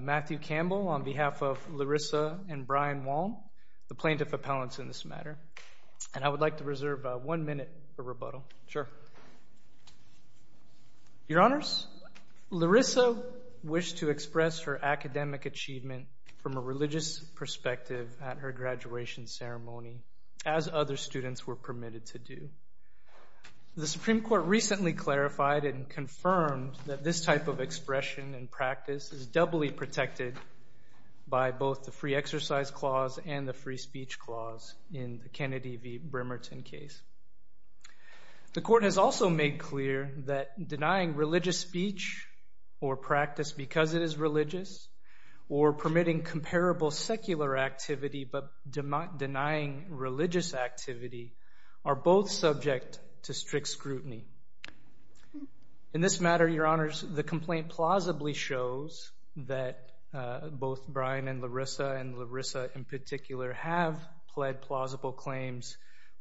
Matthew Campbell, on behalf of Larissa and Brian Waln, the plaintiff appellants in this matter. I would like to reserve one minute for rebuttal. Your Honors, Larissa wished to express her academic achievement from a religious perspective at her graduation ceremony, as other students were permitted to do. The Supreme Court recently clarified and confirmed that this type of expression and practice is doubly protected by both the free exercise clause and the free speech clause in the Kennedy v. Bremerton case. The Court has also made clear that denying religious speech or practice because it is religious or permitting comparable secular activity but denying religious activity are both subject to strict scrutiny. In this matter, Your Honors, the complaint plausibly shows that both Brian and Larissa and Larissa in particular have pled plausible claims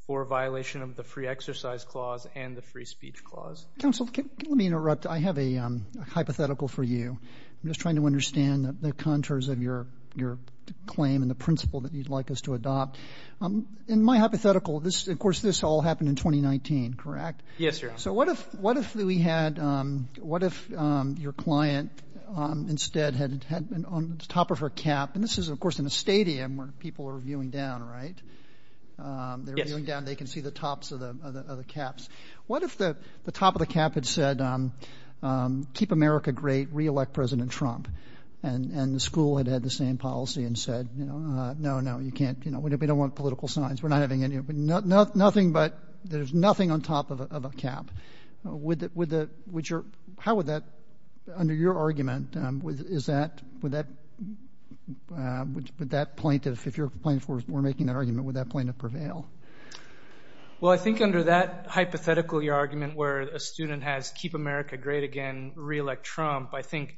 for violation of the free exercise clause and the free speech clause. Counsel, let me interrupt. I have a hypothetical for you. I'm just trying to understand the contours of your claim and the principle that you'd like us to adopt. In my hypothetical, of course, this all happened in 2019, correct? Yes, Your Honors. So what if we had, what if your client instead had on the top of her cap, and this is, of course, in a stadium where people are viewing down, right? Yes. They're viewing down. They can see the tops of the caps. What if the top of the cap had said, keep America great, reelect President Trump, and the school had had the same policy and said, no, no, you can't, you know, we don't want political science. We're not having any, but nothing but, there's nothing on top of a cap. Would that, would that, would your, how would that, under your argument, is that, would that, would that plaintiff, if your plaintiff were making that argument, would that plaintiff prevail? Well, I think under that hypothetical, your argument where a student has keep America great again, reelect Trump, I think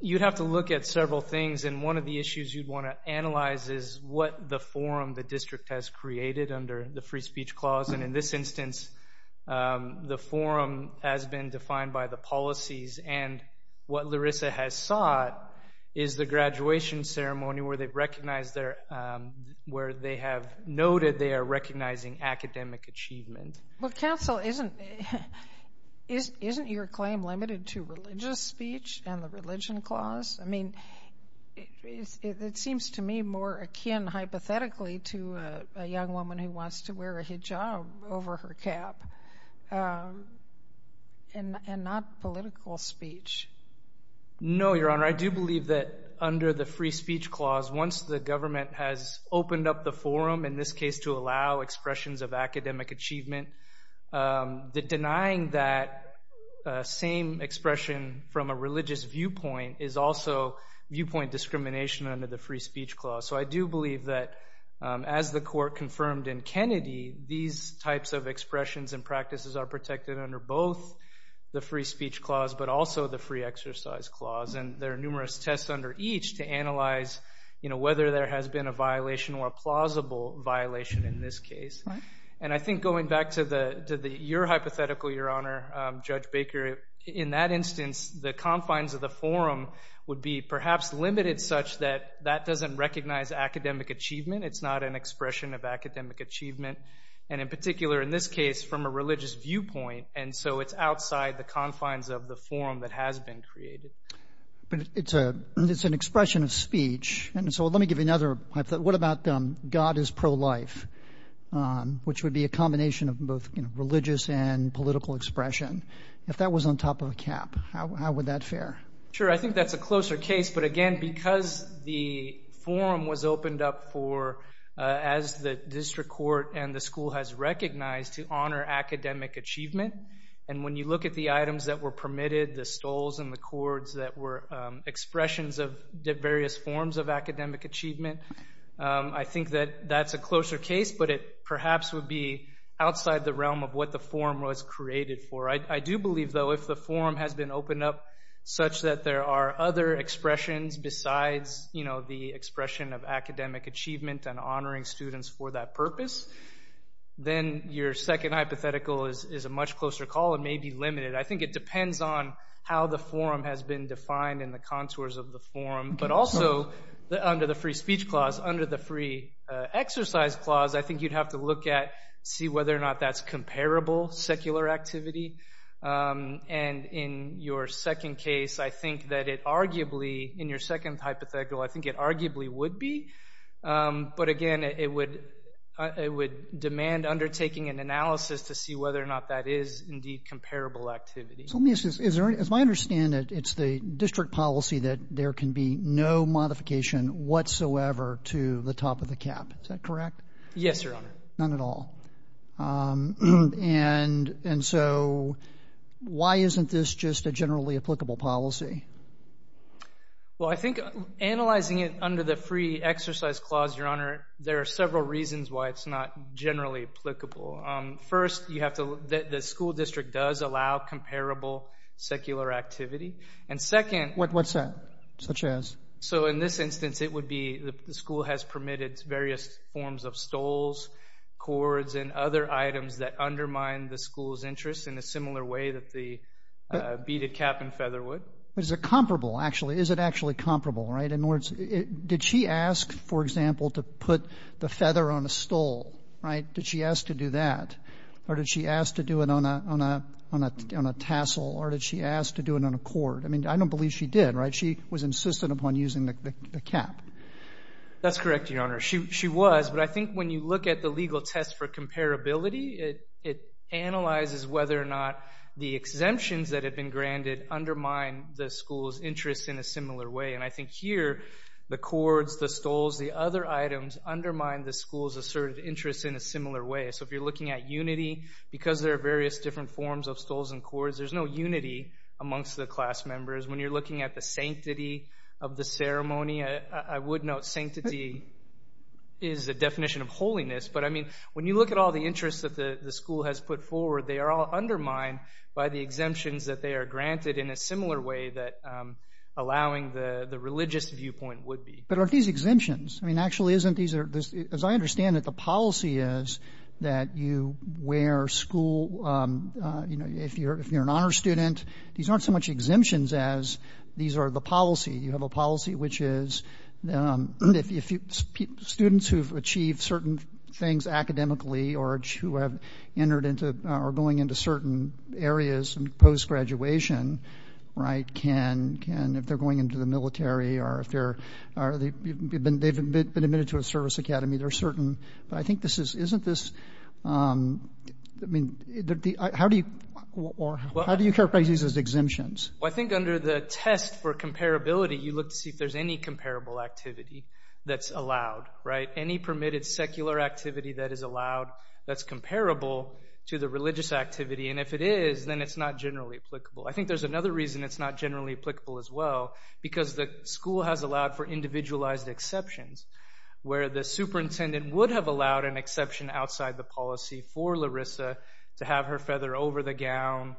you'd have to look at several things, and one of the issues you'd want to analyze is what the forum the district has created under the free speech clause. And in this instance, the forum has been defined by the policies, and what Larissa has sought is the graduation ceremony where they've recognized their, where they have noted they are recognizing academic achievement. Well, counsel, isn't, isn't your claim limited to religious speech and the religion clause? I mean, it seems to me more akin, hypothetically, to a young woman who wants to wear a hijab over her cap, and not political speech. No, your honor, I do believe that under the free speech clause, once the government has opened up the forum, in this case, to allow expressions of academic achievement, the denying that same expression from a religious viewpoint is also viewpoint discrimination under the free speech clause. So I do believe that as the court confirmed in Kennedy, these types of expressions and practices are protected under both the free speech clause, but also the free exercise clause. And there are numerous tests under each to analyze, you know, whether there has been a violation or a plausible violation in this case. And I think going back to the, to the, your hypothetical, your honor, Judge Baker, in that instance, the confines of the forum would be perhaps limited such that that doesn't recognize academic achievement. It's not an expression of academic achievement. And in particular, in this case, from a religious viewpoint, and so it's outside the confines of the forum that has been created. It's a, it's an expression of speech, and so let me give you another, what about God is pro-life, which would be a combination of both, you know, religious and political expression. If that was on top of a cap, how would that fare? Sure. I think that's a closer case. But again, because the forum was opened up for, as the district court and the school has recognized, to honor academic achievement. And when you look at the items that were permitted, the stoles and the cords that were expressions of various forms of academic achievement, I think that that's a closer case, but it perhaps would be outside the realm of what the forum was created for. I do believe, though, if the forum has been opened up such that there are other expressions besides, you know, the expression of academic achievement and honoring students for that purpose, then your second hypothetical is a much closer call and may be limited. I think it depends on how the forum has been defined and the contours of the forum, but also under the free speech clause, under the free exercise clause, I think you'd have to look at, see whether or not that's comparable secular activity. And in your second case, I think that it arguably, in your second hypothetical, I think it arguably would be, but again, it would, it would demand undertaking an analysis to see whether or not that is indeed comparable activity. So let me ask you this. Is there, as I understand it, it's the district policy that there can be no modification whatsoever to the top of the cap. Is that correct? Yes, Your Honor. None at all. And so why isn't this just a generally applicable policy? Well, I think analyzing it under the free exercise clause, Your Honor, there are several reasons why it's not generally applicable. First, you have to, the school district does allow comparable secular activity. And second- What's that? Such as? So in this instance, it would be the school has permitted various forms of stoles, cords, and other items that undermine the school's interest in a similar way that the beaded cap and feather would. Is it comparable? Actually, is it actually comparable, right? In other words, did she ask, for example, to put the feather on a stole, right? Did she ask to do that or did she ask to do it on a tassel or did she ask to do it on a cord? I mean, I don't believe she did, right? She was insistent upon using the cap. That's correct, Your Honor. She was. But I think when you look at the legal test for comparability, it analyzes whether or not the exemptions that have been granted undermine the school's interest in a similar way. And I think here, the cords, the stoles, the other items undermine the school's asserted interest in a similar way. So if you're looking at unity, because there are various different forms of stoles and cords, there's no unity amongst the class members. When you're looking at the sanctity of the ceremony, I would note sanctity is a definition of holiness. But I mean, when you look at all the interests that the school has put forward, they are all undermined by the exemptions that they are granted in a similar way that allowing the religious viewpoint would be. But aren't these exemptions? I mean, actually, as I understand it, the policy is that you wear school, you know, if you're an honor student, these aren't so much exemptions as these are the policy. You have a policy which is students who've achieved certain things academically or who have entered into or going into certain areas post-graduation, right, can, if they're going into the military or if they're, they've been admitted to a service academy, they're certain. But I think this is, isn't this, I mean, how do you characterize these as exemptions? I think under the test for comparability, you look to see if there's any comparable activity that's allowed, right? Any permitted secular activity that is allowed, that's comparable to the religious activity. And if it is, then it's not generally applicable. I think there's another reason it's not generally applicable as well because the school has allowed for individualized exceptions where the superintendent would have allowed an exception outside the policy for Larissa to have her feather over the gown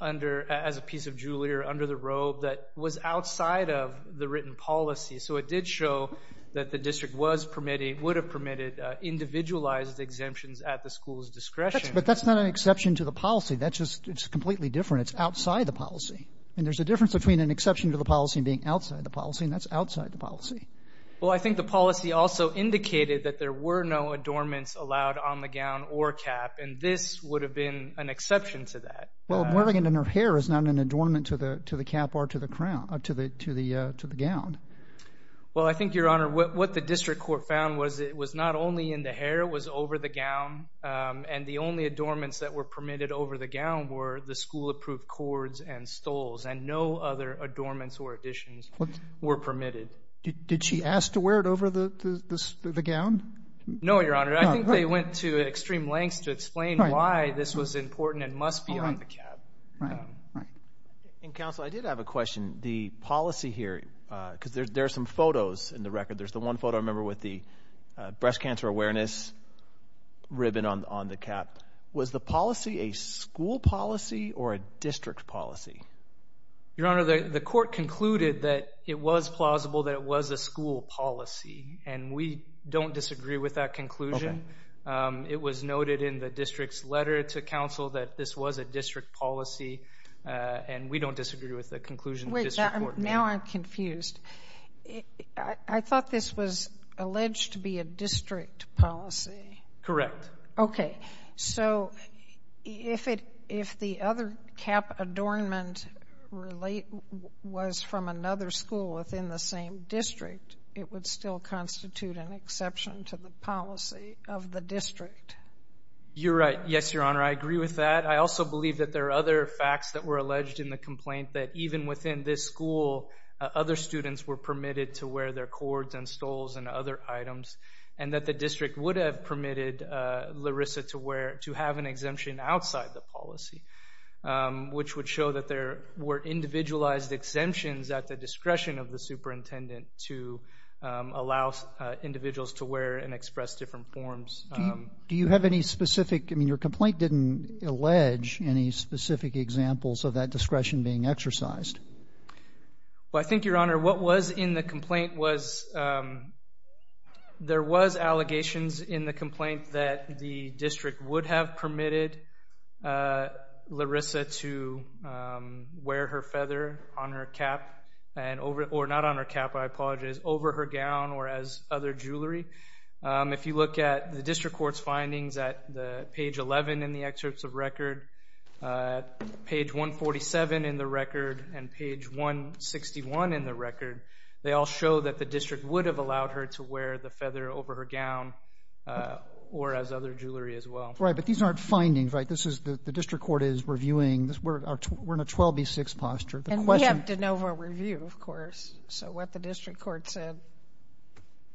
under, as a piece of jewelry or under the robe that was outside of the written policy. So it did show that the district was permitting, would have permitted individualized exemptions at the school's discretion. But that's not an exception to the policy. That's just, it's completely different. It's outside the policy. And there's a difference between an exception to the policy and being outside the policy, and that's outside the policy. Well, I think the policy also indicated that there were no adornments allowed on the gown or cap, and this would have been an exception to that. Well, wearing it in her hair is not an adornment to the cap or to the crown, to the gown. Well, I think, Your Honor, what the district court found was it was not only in the hair, it was over the gown, and the only adornments that were permitted over the gown were the school-approved cords and stoles, and no other adornments or additions were permitted. Did she ask to wear it over the gown? No, Your Honor. I think they went to extreme lengths to explain why this was important and must be on the cap. Right. Right. And, Counsel, I did have a question. The policy here, because there are some photos in the record. There's the one photo, I remember, with the breast cancer awareness ribbon on the cap. Was the policy a school policy or a district policy? Your Honor, the court concluded that it was plausible that it was a school policy, and we don't disagree with that conclusion. It was noted in the district's letter to counsel that this was a district policy, and we don't disagree with the conclusion the district court made. Wait, now I'm confused. I thought this was alleged to be a district policy. Correct. Okay. So, if the other cap adornment was from another school within the same district, it would still constitute an exception to the policy of the district. You're right. Yes, Your Honor, I agree with that. I also believe that there are other facts that were alleged in the complaint that even within this school, other students were permitted to wear their cords and stoles and other items, and that the district would have permitted Larissa to have an exemption outside the policy, which would show that there were individualized exemptions at the discretion of the superintendent to allow individuals to wear and express different forms. Do you have any specific, I mean, your complaint didn't allege any specific examples of that Well, I think, Your Honor, what was in the complaint was, there was allegations in the complaint that the district would have permitted Larissa to wear her feather on her cap, or not on her cap, I apologize, over her gown or as other jewelry. If you look at the district court's findings at page 11 in the excerpts of record, page 147 in the record and page 161 in the record, they all show that the district would have allowed her to wear the feather over her gown or as other jewelry as well. Right, but these aren't findings, right? This is the district court is reviewing, we're in a 12B6 posture. And we have de novo review, of course, so what the district court said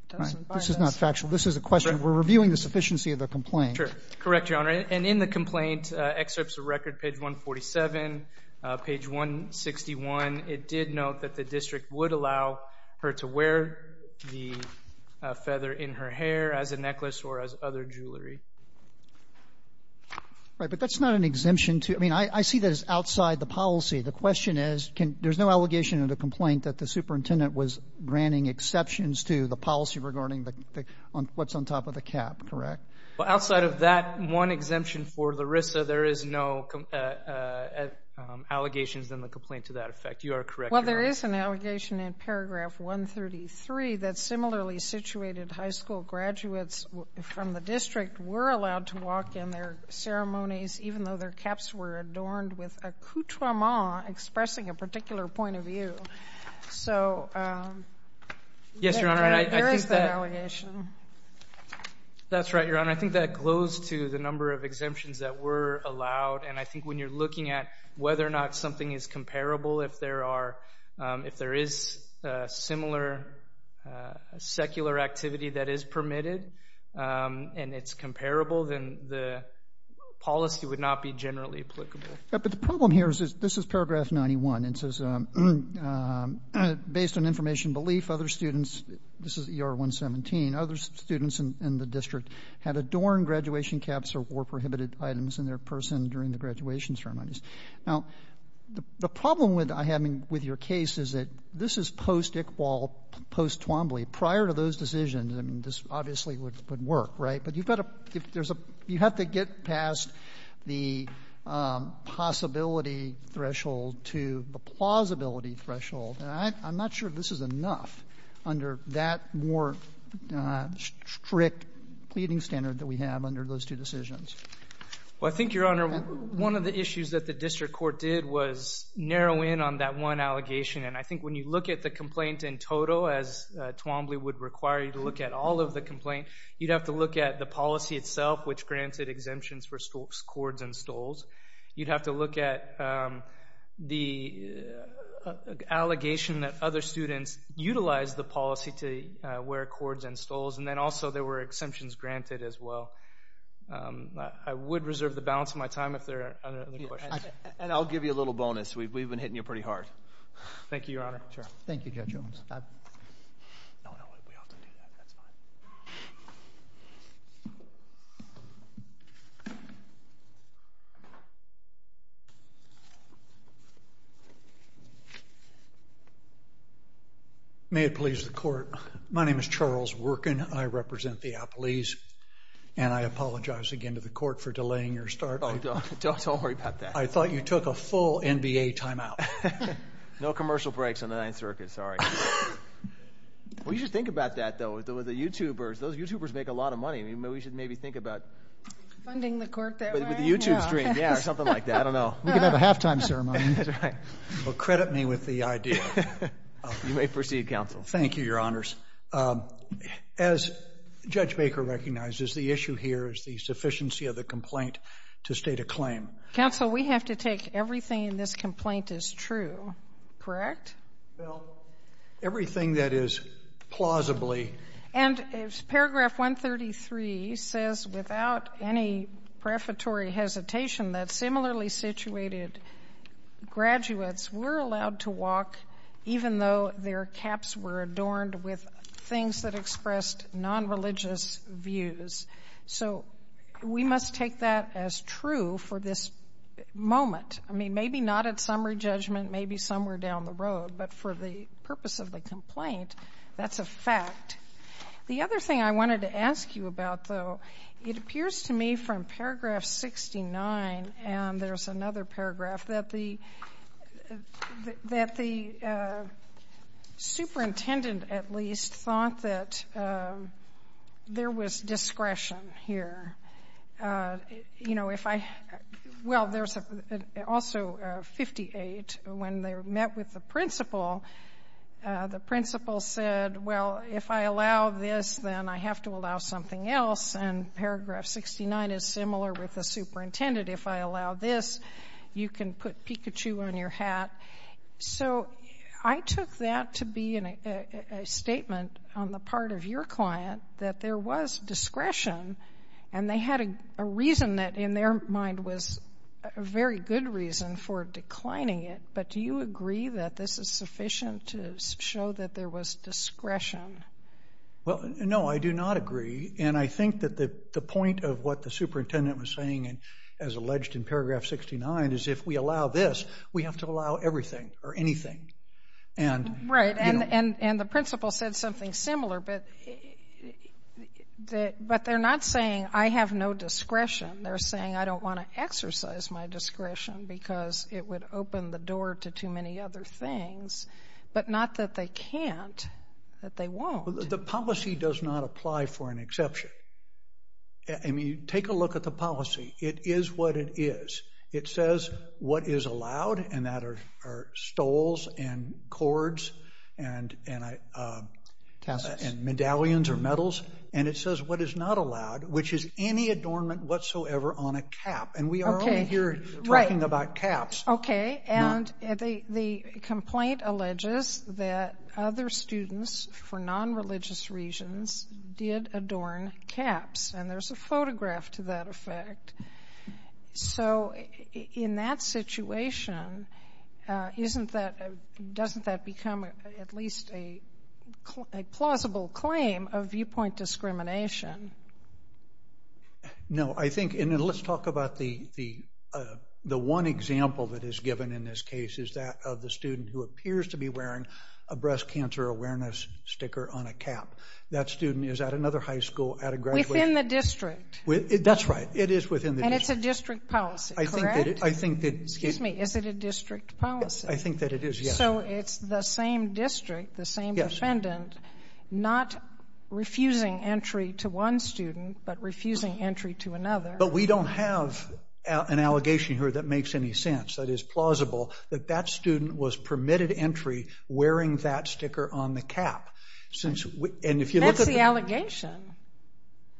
doesn't buy us. This is not factual. This is a question. We're reviewing the sufficiency of the complaint. Sure. Correct, Your Honor. And in the complaint, excerpts of record, page 147, page 161, it did note that the district would allow her to wear the feather in her hair as a necklace or as other jewelry. Right, but that's not an exemption to, I mean, I see that as outside the policy. The question is, there's no allegation in the complaint that the superintendent was granting exceptions to the policy regarding what's on top of the cap, correct? Well, outside of that one exemption for Larissa, there is no allegations in the complaint to that effect. You are correct, Your Honor. Well, there is an allegation in paragraph 133 that similarly situated high school graduates from the district were allowed to walk in their ceremonies even though their caps were adorned with a couturement expressing a particular point of view. So there is that allegation. That's right, Your Honor. I think that glows to the number of exemptions that were allowed, and I think when you're looking at whether or not something is comparable, if there is a similar secular activity that is permitted and it's comparable, then the policy would not be generally applicable. But the problem here is, this is paragraph 91, and it says, based on information belief, other students, this is ER 117, other students in the district had adorned graduation caps or were prohibited items in their person during the graduation ceremonies. Now, the problem with your case is that this is post-Iqbal, post-Twombly. Prior to those decisions, I mean, this obviously would work, right? But you've got to, you have to get past the possibility threshold to the plausibility threshold. And I'm not sure this is enough under that more strict pleading standard that we have under those two decisions. Well, I think, Your Honor, one of the issues that the district court did was narrow in on that one allegation. And I think when you look at the complaint in total, as Twombly would require you to look at all of the complaint, you'd have to look at the policy itself, which granted exemptions for scores and stoles. You'd have to look at the allegation that other students utilized the policy to wear cords and stoles. And then also, there were exemptions granted as well. I would reserve the balance of my time if there are other questions. And I'll give you a little bonus. We've been hitting you pretty hard. Thank you, Your Honor. Thank you, Judge Owens. May it please the court, my name is Charles Workin. I represent the Appalese. And I apologize again to the court for delaying your start. Oh, don't worry about that. I thought you took a full NBA timeout. No commercial breaks on the Ninth Circuit, sorry. We should think about that, though, with the YouTubers. Those YouTubers make a lot of money. We should maybe think about funding the YouTube stream, yeah, or something like that, I don't know. We could have a halftime ceremony. That's right. Well, credit me with the idea. You may proceed, Counsel. Thank you, Your Honors. As Judge Baker recognizes, the issue here is the sufficiency of the complaint to state a claim. Counsel, we have to take everything in this complaint as true, correct? Well, everything that is plausibly. And paragraph 133 says, without any prefatory hesitation, that similarly situated graduates were allowed to walk even though their caps were adorned with things that expressed non-religious views. So we must take that as true for this moment. I mean, maybe not at summary judgment, maybe somewhere down the road, but for the purpose of the complaint, that's a fact. The other thing I wanted to ask you about, though, it appears to me from paragraph 69, and there's another paragraph, that the superintendent, at least, thought that there was discretion here. You know, if I—well, there's also 58. When they met with the principal, the principal said, well, if I allow this, then I have to allow something else. And paragraph 69 is similar with the superintendent. If I allow this, you can put Pikachu on your hat. So I took that to be a statement on the part of your client that there was discretion, and they had a reason that, in their mind, was a very good reason for declining it. But do you agree that this is sufficient to show that there was discretion? Well, no, I do not agree. And I think that the point of what the superintendent was saying, as alleged in paragraph 69, is if we allow this, we have to allow everything or anything. And— Right. And the principal said something similar, but they're not saying, I have no discretion. They're saying, I don't want to exercise my discretion because it would open the door to too many other things. But not that they can't, that they won't. The policy does not apply for an exception. I mean, take a look at the policy. It is what it is. It says what is allowed, and that are stoles and cords and— Tassels. And medallions or medals. And it says what is not allowed, which is any adornment whatsoever on a cap. And we are only here talking about caps. Okay, and the complaint alleges that other students for non-religious reasons did adorn caps. And there's a photograph to that effect. So in that situation, isn't that—doesn't that become at least a plausible claim of viewpoint discrimination? No, I think—and let's talk about the one example that is given in this case is that of the student who appears to be wearing a breast cancer awareness sticker on a cap. That student is at another high school at a graduation— Within the district. That's right. It is within the district. And it's a district policy, correct? I think that— Excuse me, is it a district policy? I think that it is, yes. So it's the same district, the same defendant, not refusing entry to one student, but refusing entry to another. But we don't have an allegation here that makes any sense, that is plausible, that that student was permitted entry wearing that sticker on the cap. And if you look at the— That's the allegation.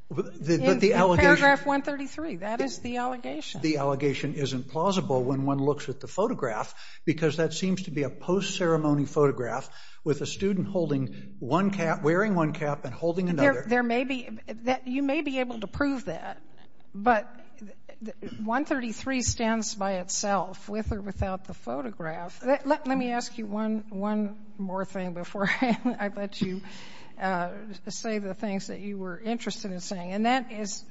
But the allegation— In paragraph 133, that is the allegation. The allegation isn't plausible when one looks at the photograph, because that seems to be a post-ceremony photograph with a student holding one cap—wearing one cap and holding another. There may be—you may be able to prove that, but 133 stands by itself, with or without the photograph. Let me ask you one more thing before I let you say the things that you were interested in saying, and that is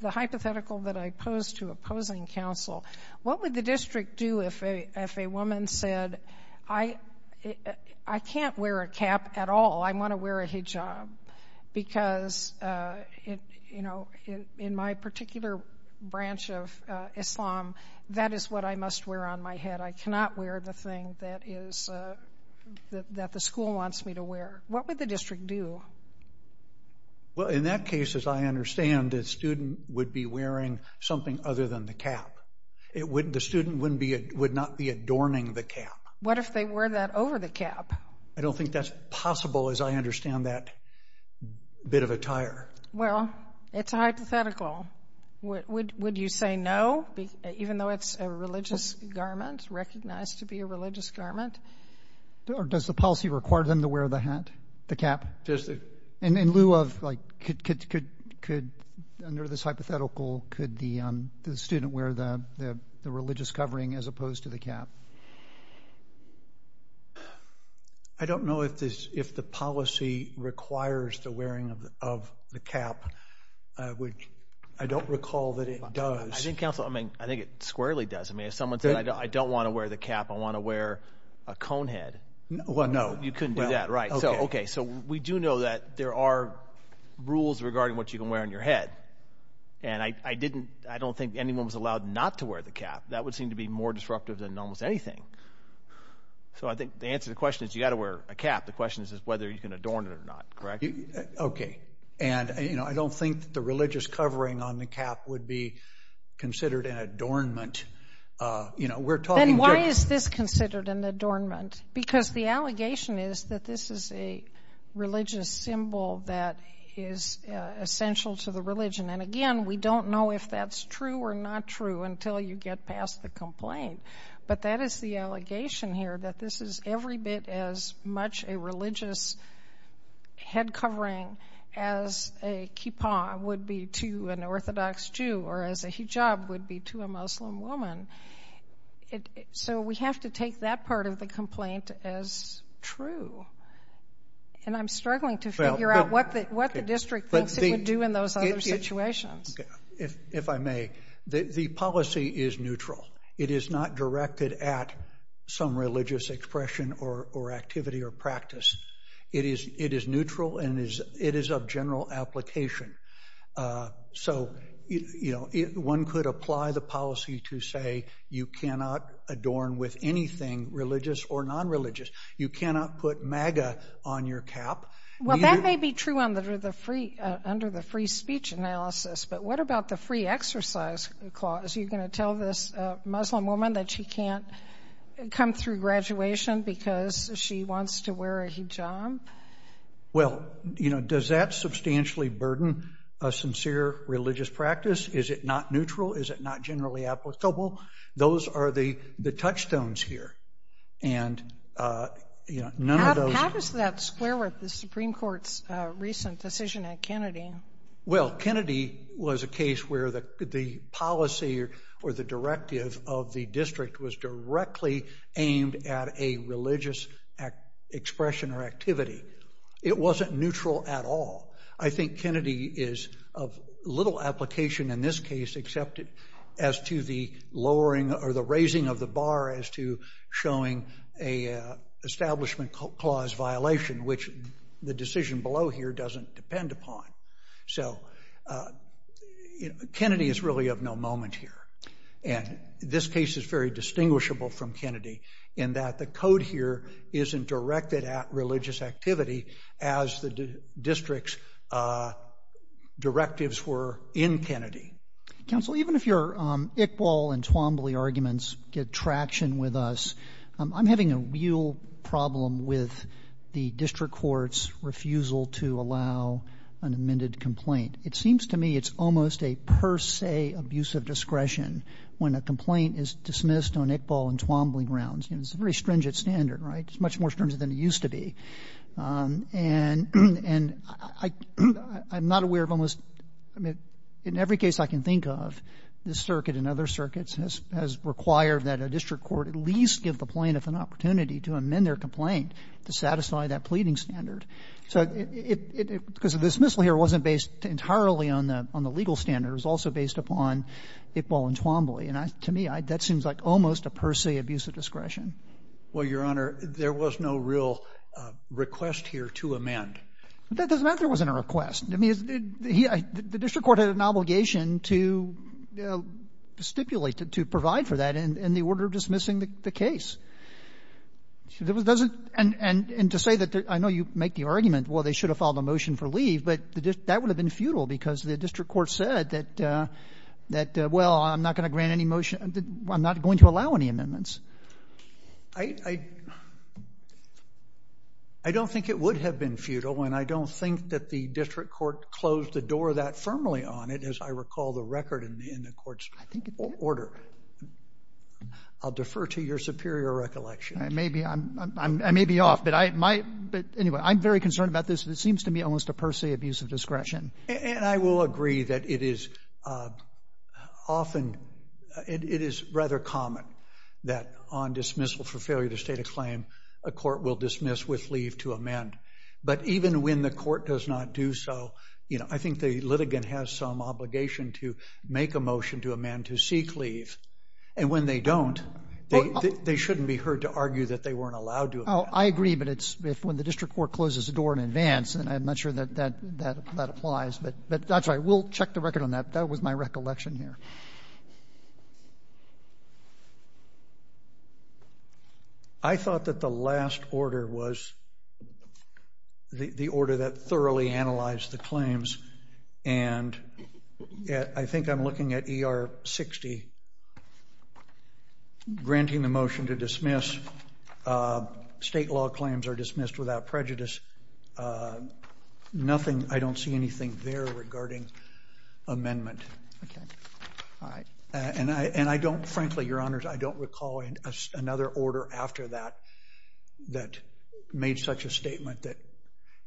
the hypothetical that I pose to opposing counsel. What would the district do if a woman said, I can't wear a cap at all, I want to wear a hijab, because, you know, in my particular branch of Islam, that is what I must wear on my head. I cannot wear the thing that is—that the school wants me to wear. What would the district do? Well, in that case, as I understand, the student would be wearing something other than the cap. It would—the student wouldn't be—would not be adorning the cap. What if they wore that over the cap? I don't think that's possible, as I understand that bit of attire. Well, it's a hypothetical. Would you say no, even though it's a religious garment, recognized to be a religious garment? Does the policy require them to wear the hat, the cap? In lieu of, like, could—under this hypothetical, could the student wear the religious covering as opposed to the cap? I don't know if this—if the policy requires the wearing of the cap, which I don't recall that it does. I think, counsel, I mean, I think it squarely does. I mean, if someone said, I don't want to wear the cap, I want to wear a cone head. Well, no. You couldn't do that, right. So, okay, so we do know that there are rules regarding what you can wear on your head. And I didn't—I don't think anyone was allowed not to wear the cap. That would seem to be more disruptive than almost anything. So I think the answer to the question is you've got to wear a cap. The question is whether you can adorn it or not, correct? Okay. And, you know, I don't think the religious covering on the cap would be considered an adornment. You know, we're talking— Then why is this considered an adornment? Because the allegation is that this is a religious symbol that is essential to the religion. And, again, we don't know if that's true or not true until you get past the complaint. But that is the allegation here, that this is every bit as much a religious head covering as a kippah would be to an Orthodox Jew or as a hijab would be to a Muslim woman. And so we have to take that part of the complaint as true. And I'm struggling to figure out what the district thinks it would do in those other situations. Okay. If I may, the policy is neutral. It is not directed at some religious expression or activity or practice. It is neutral and it is of general application. So, you know, one could apply the policy to say you cannot adorn with anything religious or non-religious. You cannot put MAGA on your cap. Well, that may be true under the free speech analysis, but what about the free exercise clause? You're going to tell this Muslim woman that she can't come through graduation because she wants to wear a hijab? Well, you know, does that substantially burden a sincere religious practice? Is it not neutral? Is it not generally applicable? Those are the touchstones here. And you know, none of those... How does that square with the Supreme Court's recent decision at Kennedy? Well, Kennedy was a case where the policy or the directive of the district was directly aimed at a religious expression or activity. It wasn't neutral at all. I think Kennedy is of little application in this case except as to the lowering or the raising of the bar as to showing an establishment clause violation, which the decision below here doesn't depend upon. So, Kennedy is really of no moment here, and this case is very distinguishable from Kennedy in that the code here isn't directed at religious activity as the district's directives were in Kennedy. Counsel, even if your Iqbal and Twombly arguments get traction with us, I'm having a real problem with the district court's refusal to allow an amended complaint. It seems to me it's almost a per se abuse of discretion when a complaint is dismissed on Iqbal and Twombly grounds. You know, it's a very stringent standard, right? It's much more stringent than it used to be. And I'm not aware of almost, I mean, in every case I can think of, this circuit and other circuits has required that a district court at least give the plaintiff an opportunity to amend their complaint to satisfy that pleading standard. So, because the dismissal here wasn't based entirely on the legal standards, it was also based upon Iqbal and Twombly. And to me, that seems like almost a per se abuse of discretion. Well, Your Honor, there was no real request here to amend. That doesn't mean there wasn't a request. I mean, the district court had an obligation to stipulate, to provide for that in the order of dismissing the case. And to say that, I know you make the argument, well, they should have filed a motion for leave, but that would have been futile because the district court said that, well, I'm not going to grant any motion, I'm not going to allow any amendments. I don't think it would have been futile, and I don't think that the district court closed the door that firmly on it, as I recall the record in the court's order. I'll defer to your superior recollection. I may be off, but anyway, I'm very concerned about this. And I will agree that it is often, it is rather common that on dismissal for failure to state a claim, a court will dismiss with leave to amend. But even when the court does not do so, you know, I think the litigant has some obligation to make a motion to amend to seek leave. And when they don't, they shouldn't be heard to argue that they weren't allowed to amend. Oh, I agree, but it's when the district court closes the door in advance, and I'm not sure that that applies. But that's right, we'll check the record on that. That was my recollection here. I thought that the last order was the order that thoroughly analyzed the claims. And I think I'm looking at ER 60, granting the motion to dismiss, state law claims are nothing, I don't see anything there regarding amendment. And I don't, frankly, your honors, I don't recall another order after that, that made such a statement that,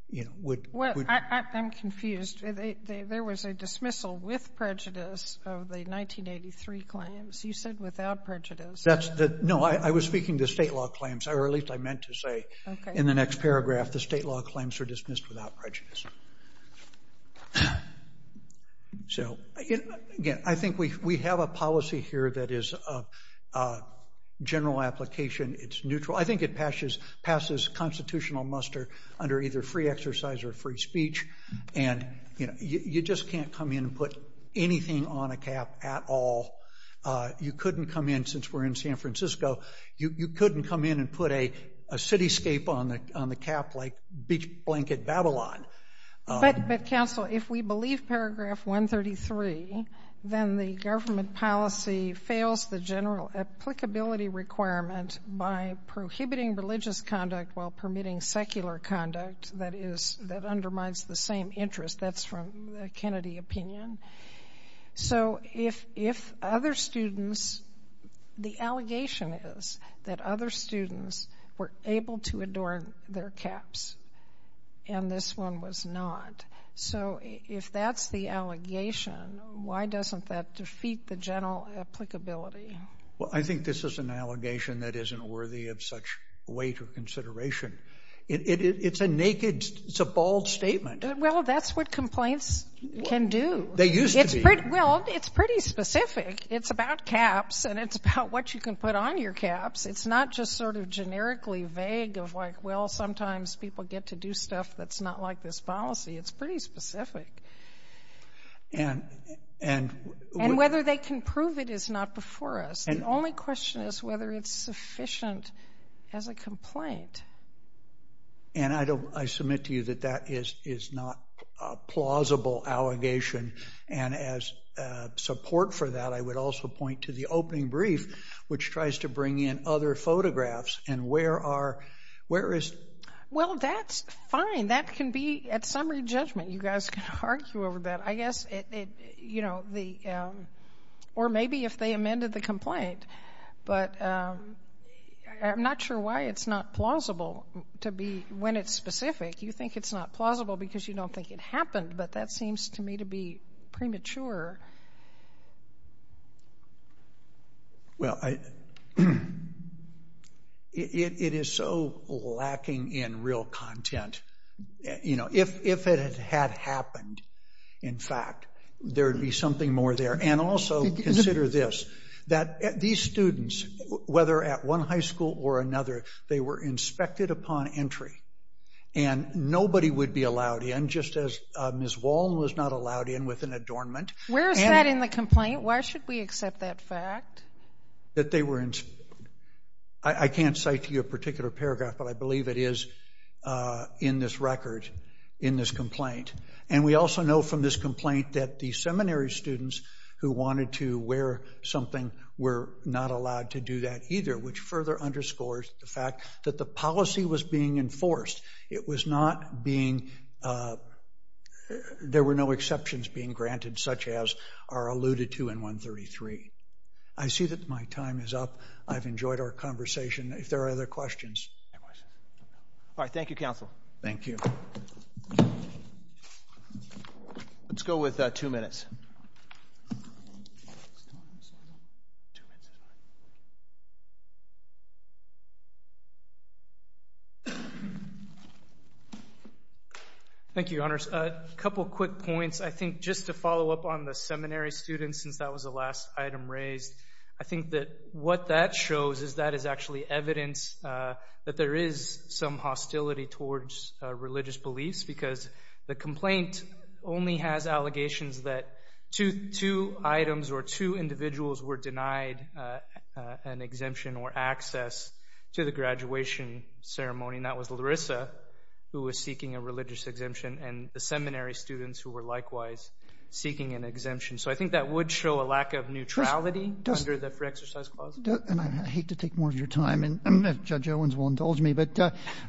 you know, would. Well, I'm confused. There was a dismissal with prejudice of the 1983 claims, you said without prejudice. That's the, no, I was speaking to state law claims, or at least I meant to say in the next paragraph, the state law claims are dismissed without prejudice. So again, I think we have a policy here that is a general application, it's neutral. I think it passes constitutional muster under either free exercise or free speech. And you just can't come in and put anything on a cap at all. You couldn't come in, since we're in San Francisco, you couldn't come in and put a cityscape on the cap like beach blanket Babylon. But, counsel, if we believe paragraph 133, then the government policy fails the general applicability requirement by prohibiting religious conduct while permitting secular conduct, that is, that undermines the same interest, that's from the Kennedy opinion. So, if, if other students, the allegation is that other students were able to adorn their caps, and this one was not, so if that's the allegation, why doesn't that defeat the general applicability? Well, I think this is an allegation that isn't worthy of such weight or consideration. It's a naked, it's a bald statement. Well, that's what complaints can do. They used to be. It's pretty, well, it's pretty specific. It's about caps, and it's about what you can put on your caps. It's not just sort of generically vague of like, well, sometimes people get to do stuff that's not like this policy. It's pretty specific, and, and, and whether they can prove it is not before us. The only question is whether it's sufficient as a complaint. And I don't, I submit to you that that is, is not a plausible allegation, and as support for that, I would also point to the opening brief, which tries to bring in other photographs, and where are, where is? Well, that's fine. That can be, at summary judgment, you guys can argue over that. I guess it, it, you know, the, or maybe if they amended the complaint, but I'm not sure why it's not plausible to be, when it's specific. You think it's not plausible because you don't think it happened, but that seems to me to be premature. Well, I, it, it is so lacking in real content. You know, if, if it had happened, in fact, there'd be something more there. And also, consider this, that these students, whether at one high school or another, they were inspected upon entry, and nobody would be allowed in, just as Ms. Wallin was not allowed in with an adornment. Where is that in the complaint? Why should we accept that fact? That they were, I can't cite to you a particular paragraph, but I believe it is in this record, in this complaint. And we also know from this complaint that the seminary students who wanted to wear something were not allowed to do that either, which further underscores the fact that the policy was being enforced. It was not being, there were no exceptions being granted, such as are alluded to in 133. I see that my time is up. I've enjoyed our conversation. If there are other questions. All right. Thank you, counsel. Thank you. Let's go with two minutes. Thank you, your honors. A couple of quick points. I think just to follow up on the seminary students, since that was the last item raised, I think that what that shows is that is actually evidence that there is some hostility towards religious beliefs because the complaint only has allegations that two items or two individuals were denied an exemption or access to the graduation ceremony, and that was Larissa, who was seeking a religious exemption, and the seminary students who were likewise seeking an exemption. So I think that would show a lack of neutrality under the free exercise clause. And I hate to take more of your time, and Judge Owens will indulge me, but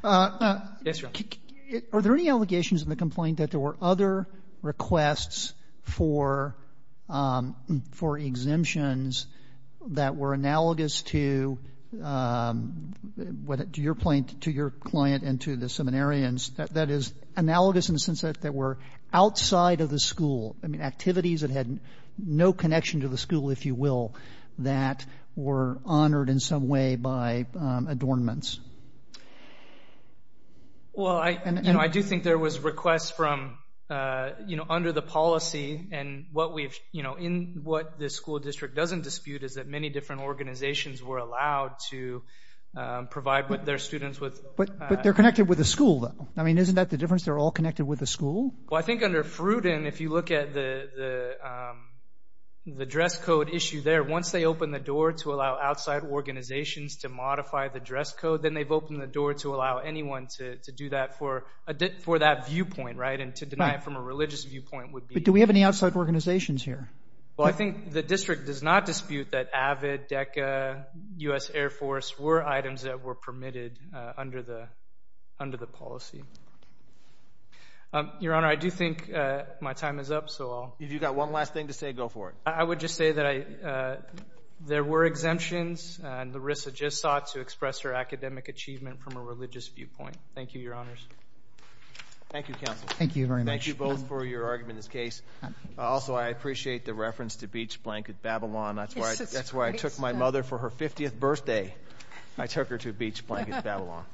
are there any allegations in the complaint that there were other requests for exemptions that were analogous to your client and to the seminarians, that is analogous in the sense that they were outside of the school, I mean activities that had no connection to the school, if you will, that were honored in some way by adornments? Well, I do think there was requests from, you know, under the policy, and what we've, you know, in what the school district doesn't dispute is that many different organizations were allowed to provide with their students with... But they're connected with the school, though. I mean, isn't that the difference? They're all connected with the school? Well, I think under Fruden, if you look at the dress code issue there, once they open the door to allow outside organizations to modify the dress code, then they've opened the door to allow anyone to do that for that viewpoint, right, and to deny it from a religious viewpoint would be... But do we have any outside organizations here? Well, I think the district does not dispute that AVID, DECA, U.S. Air Force were items that were permitted under the policy. Your Honor, I do think my time is up, so I'll... If you've got one last thing to say, go for it. I would just say that there were exemptions, and Larissa just sought to express her academic achievement from a religious viewpoint. Thank you, Your Honors. Thank you, Counsel. Thank you very much. Thank you both for your argument in this case. Also, I appreciate the reference to beach blanket Babylon. That's why I took my mother for her 50th birthday. I took her to beach blanket Babylon. Thank you, Your Honor.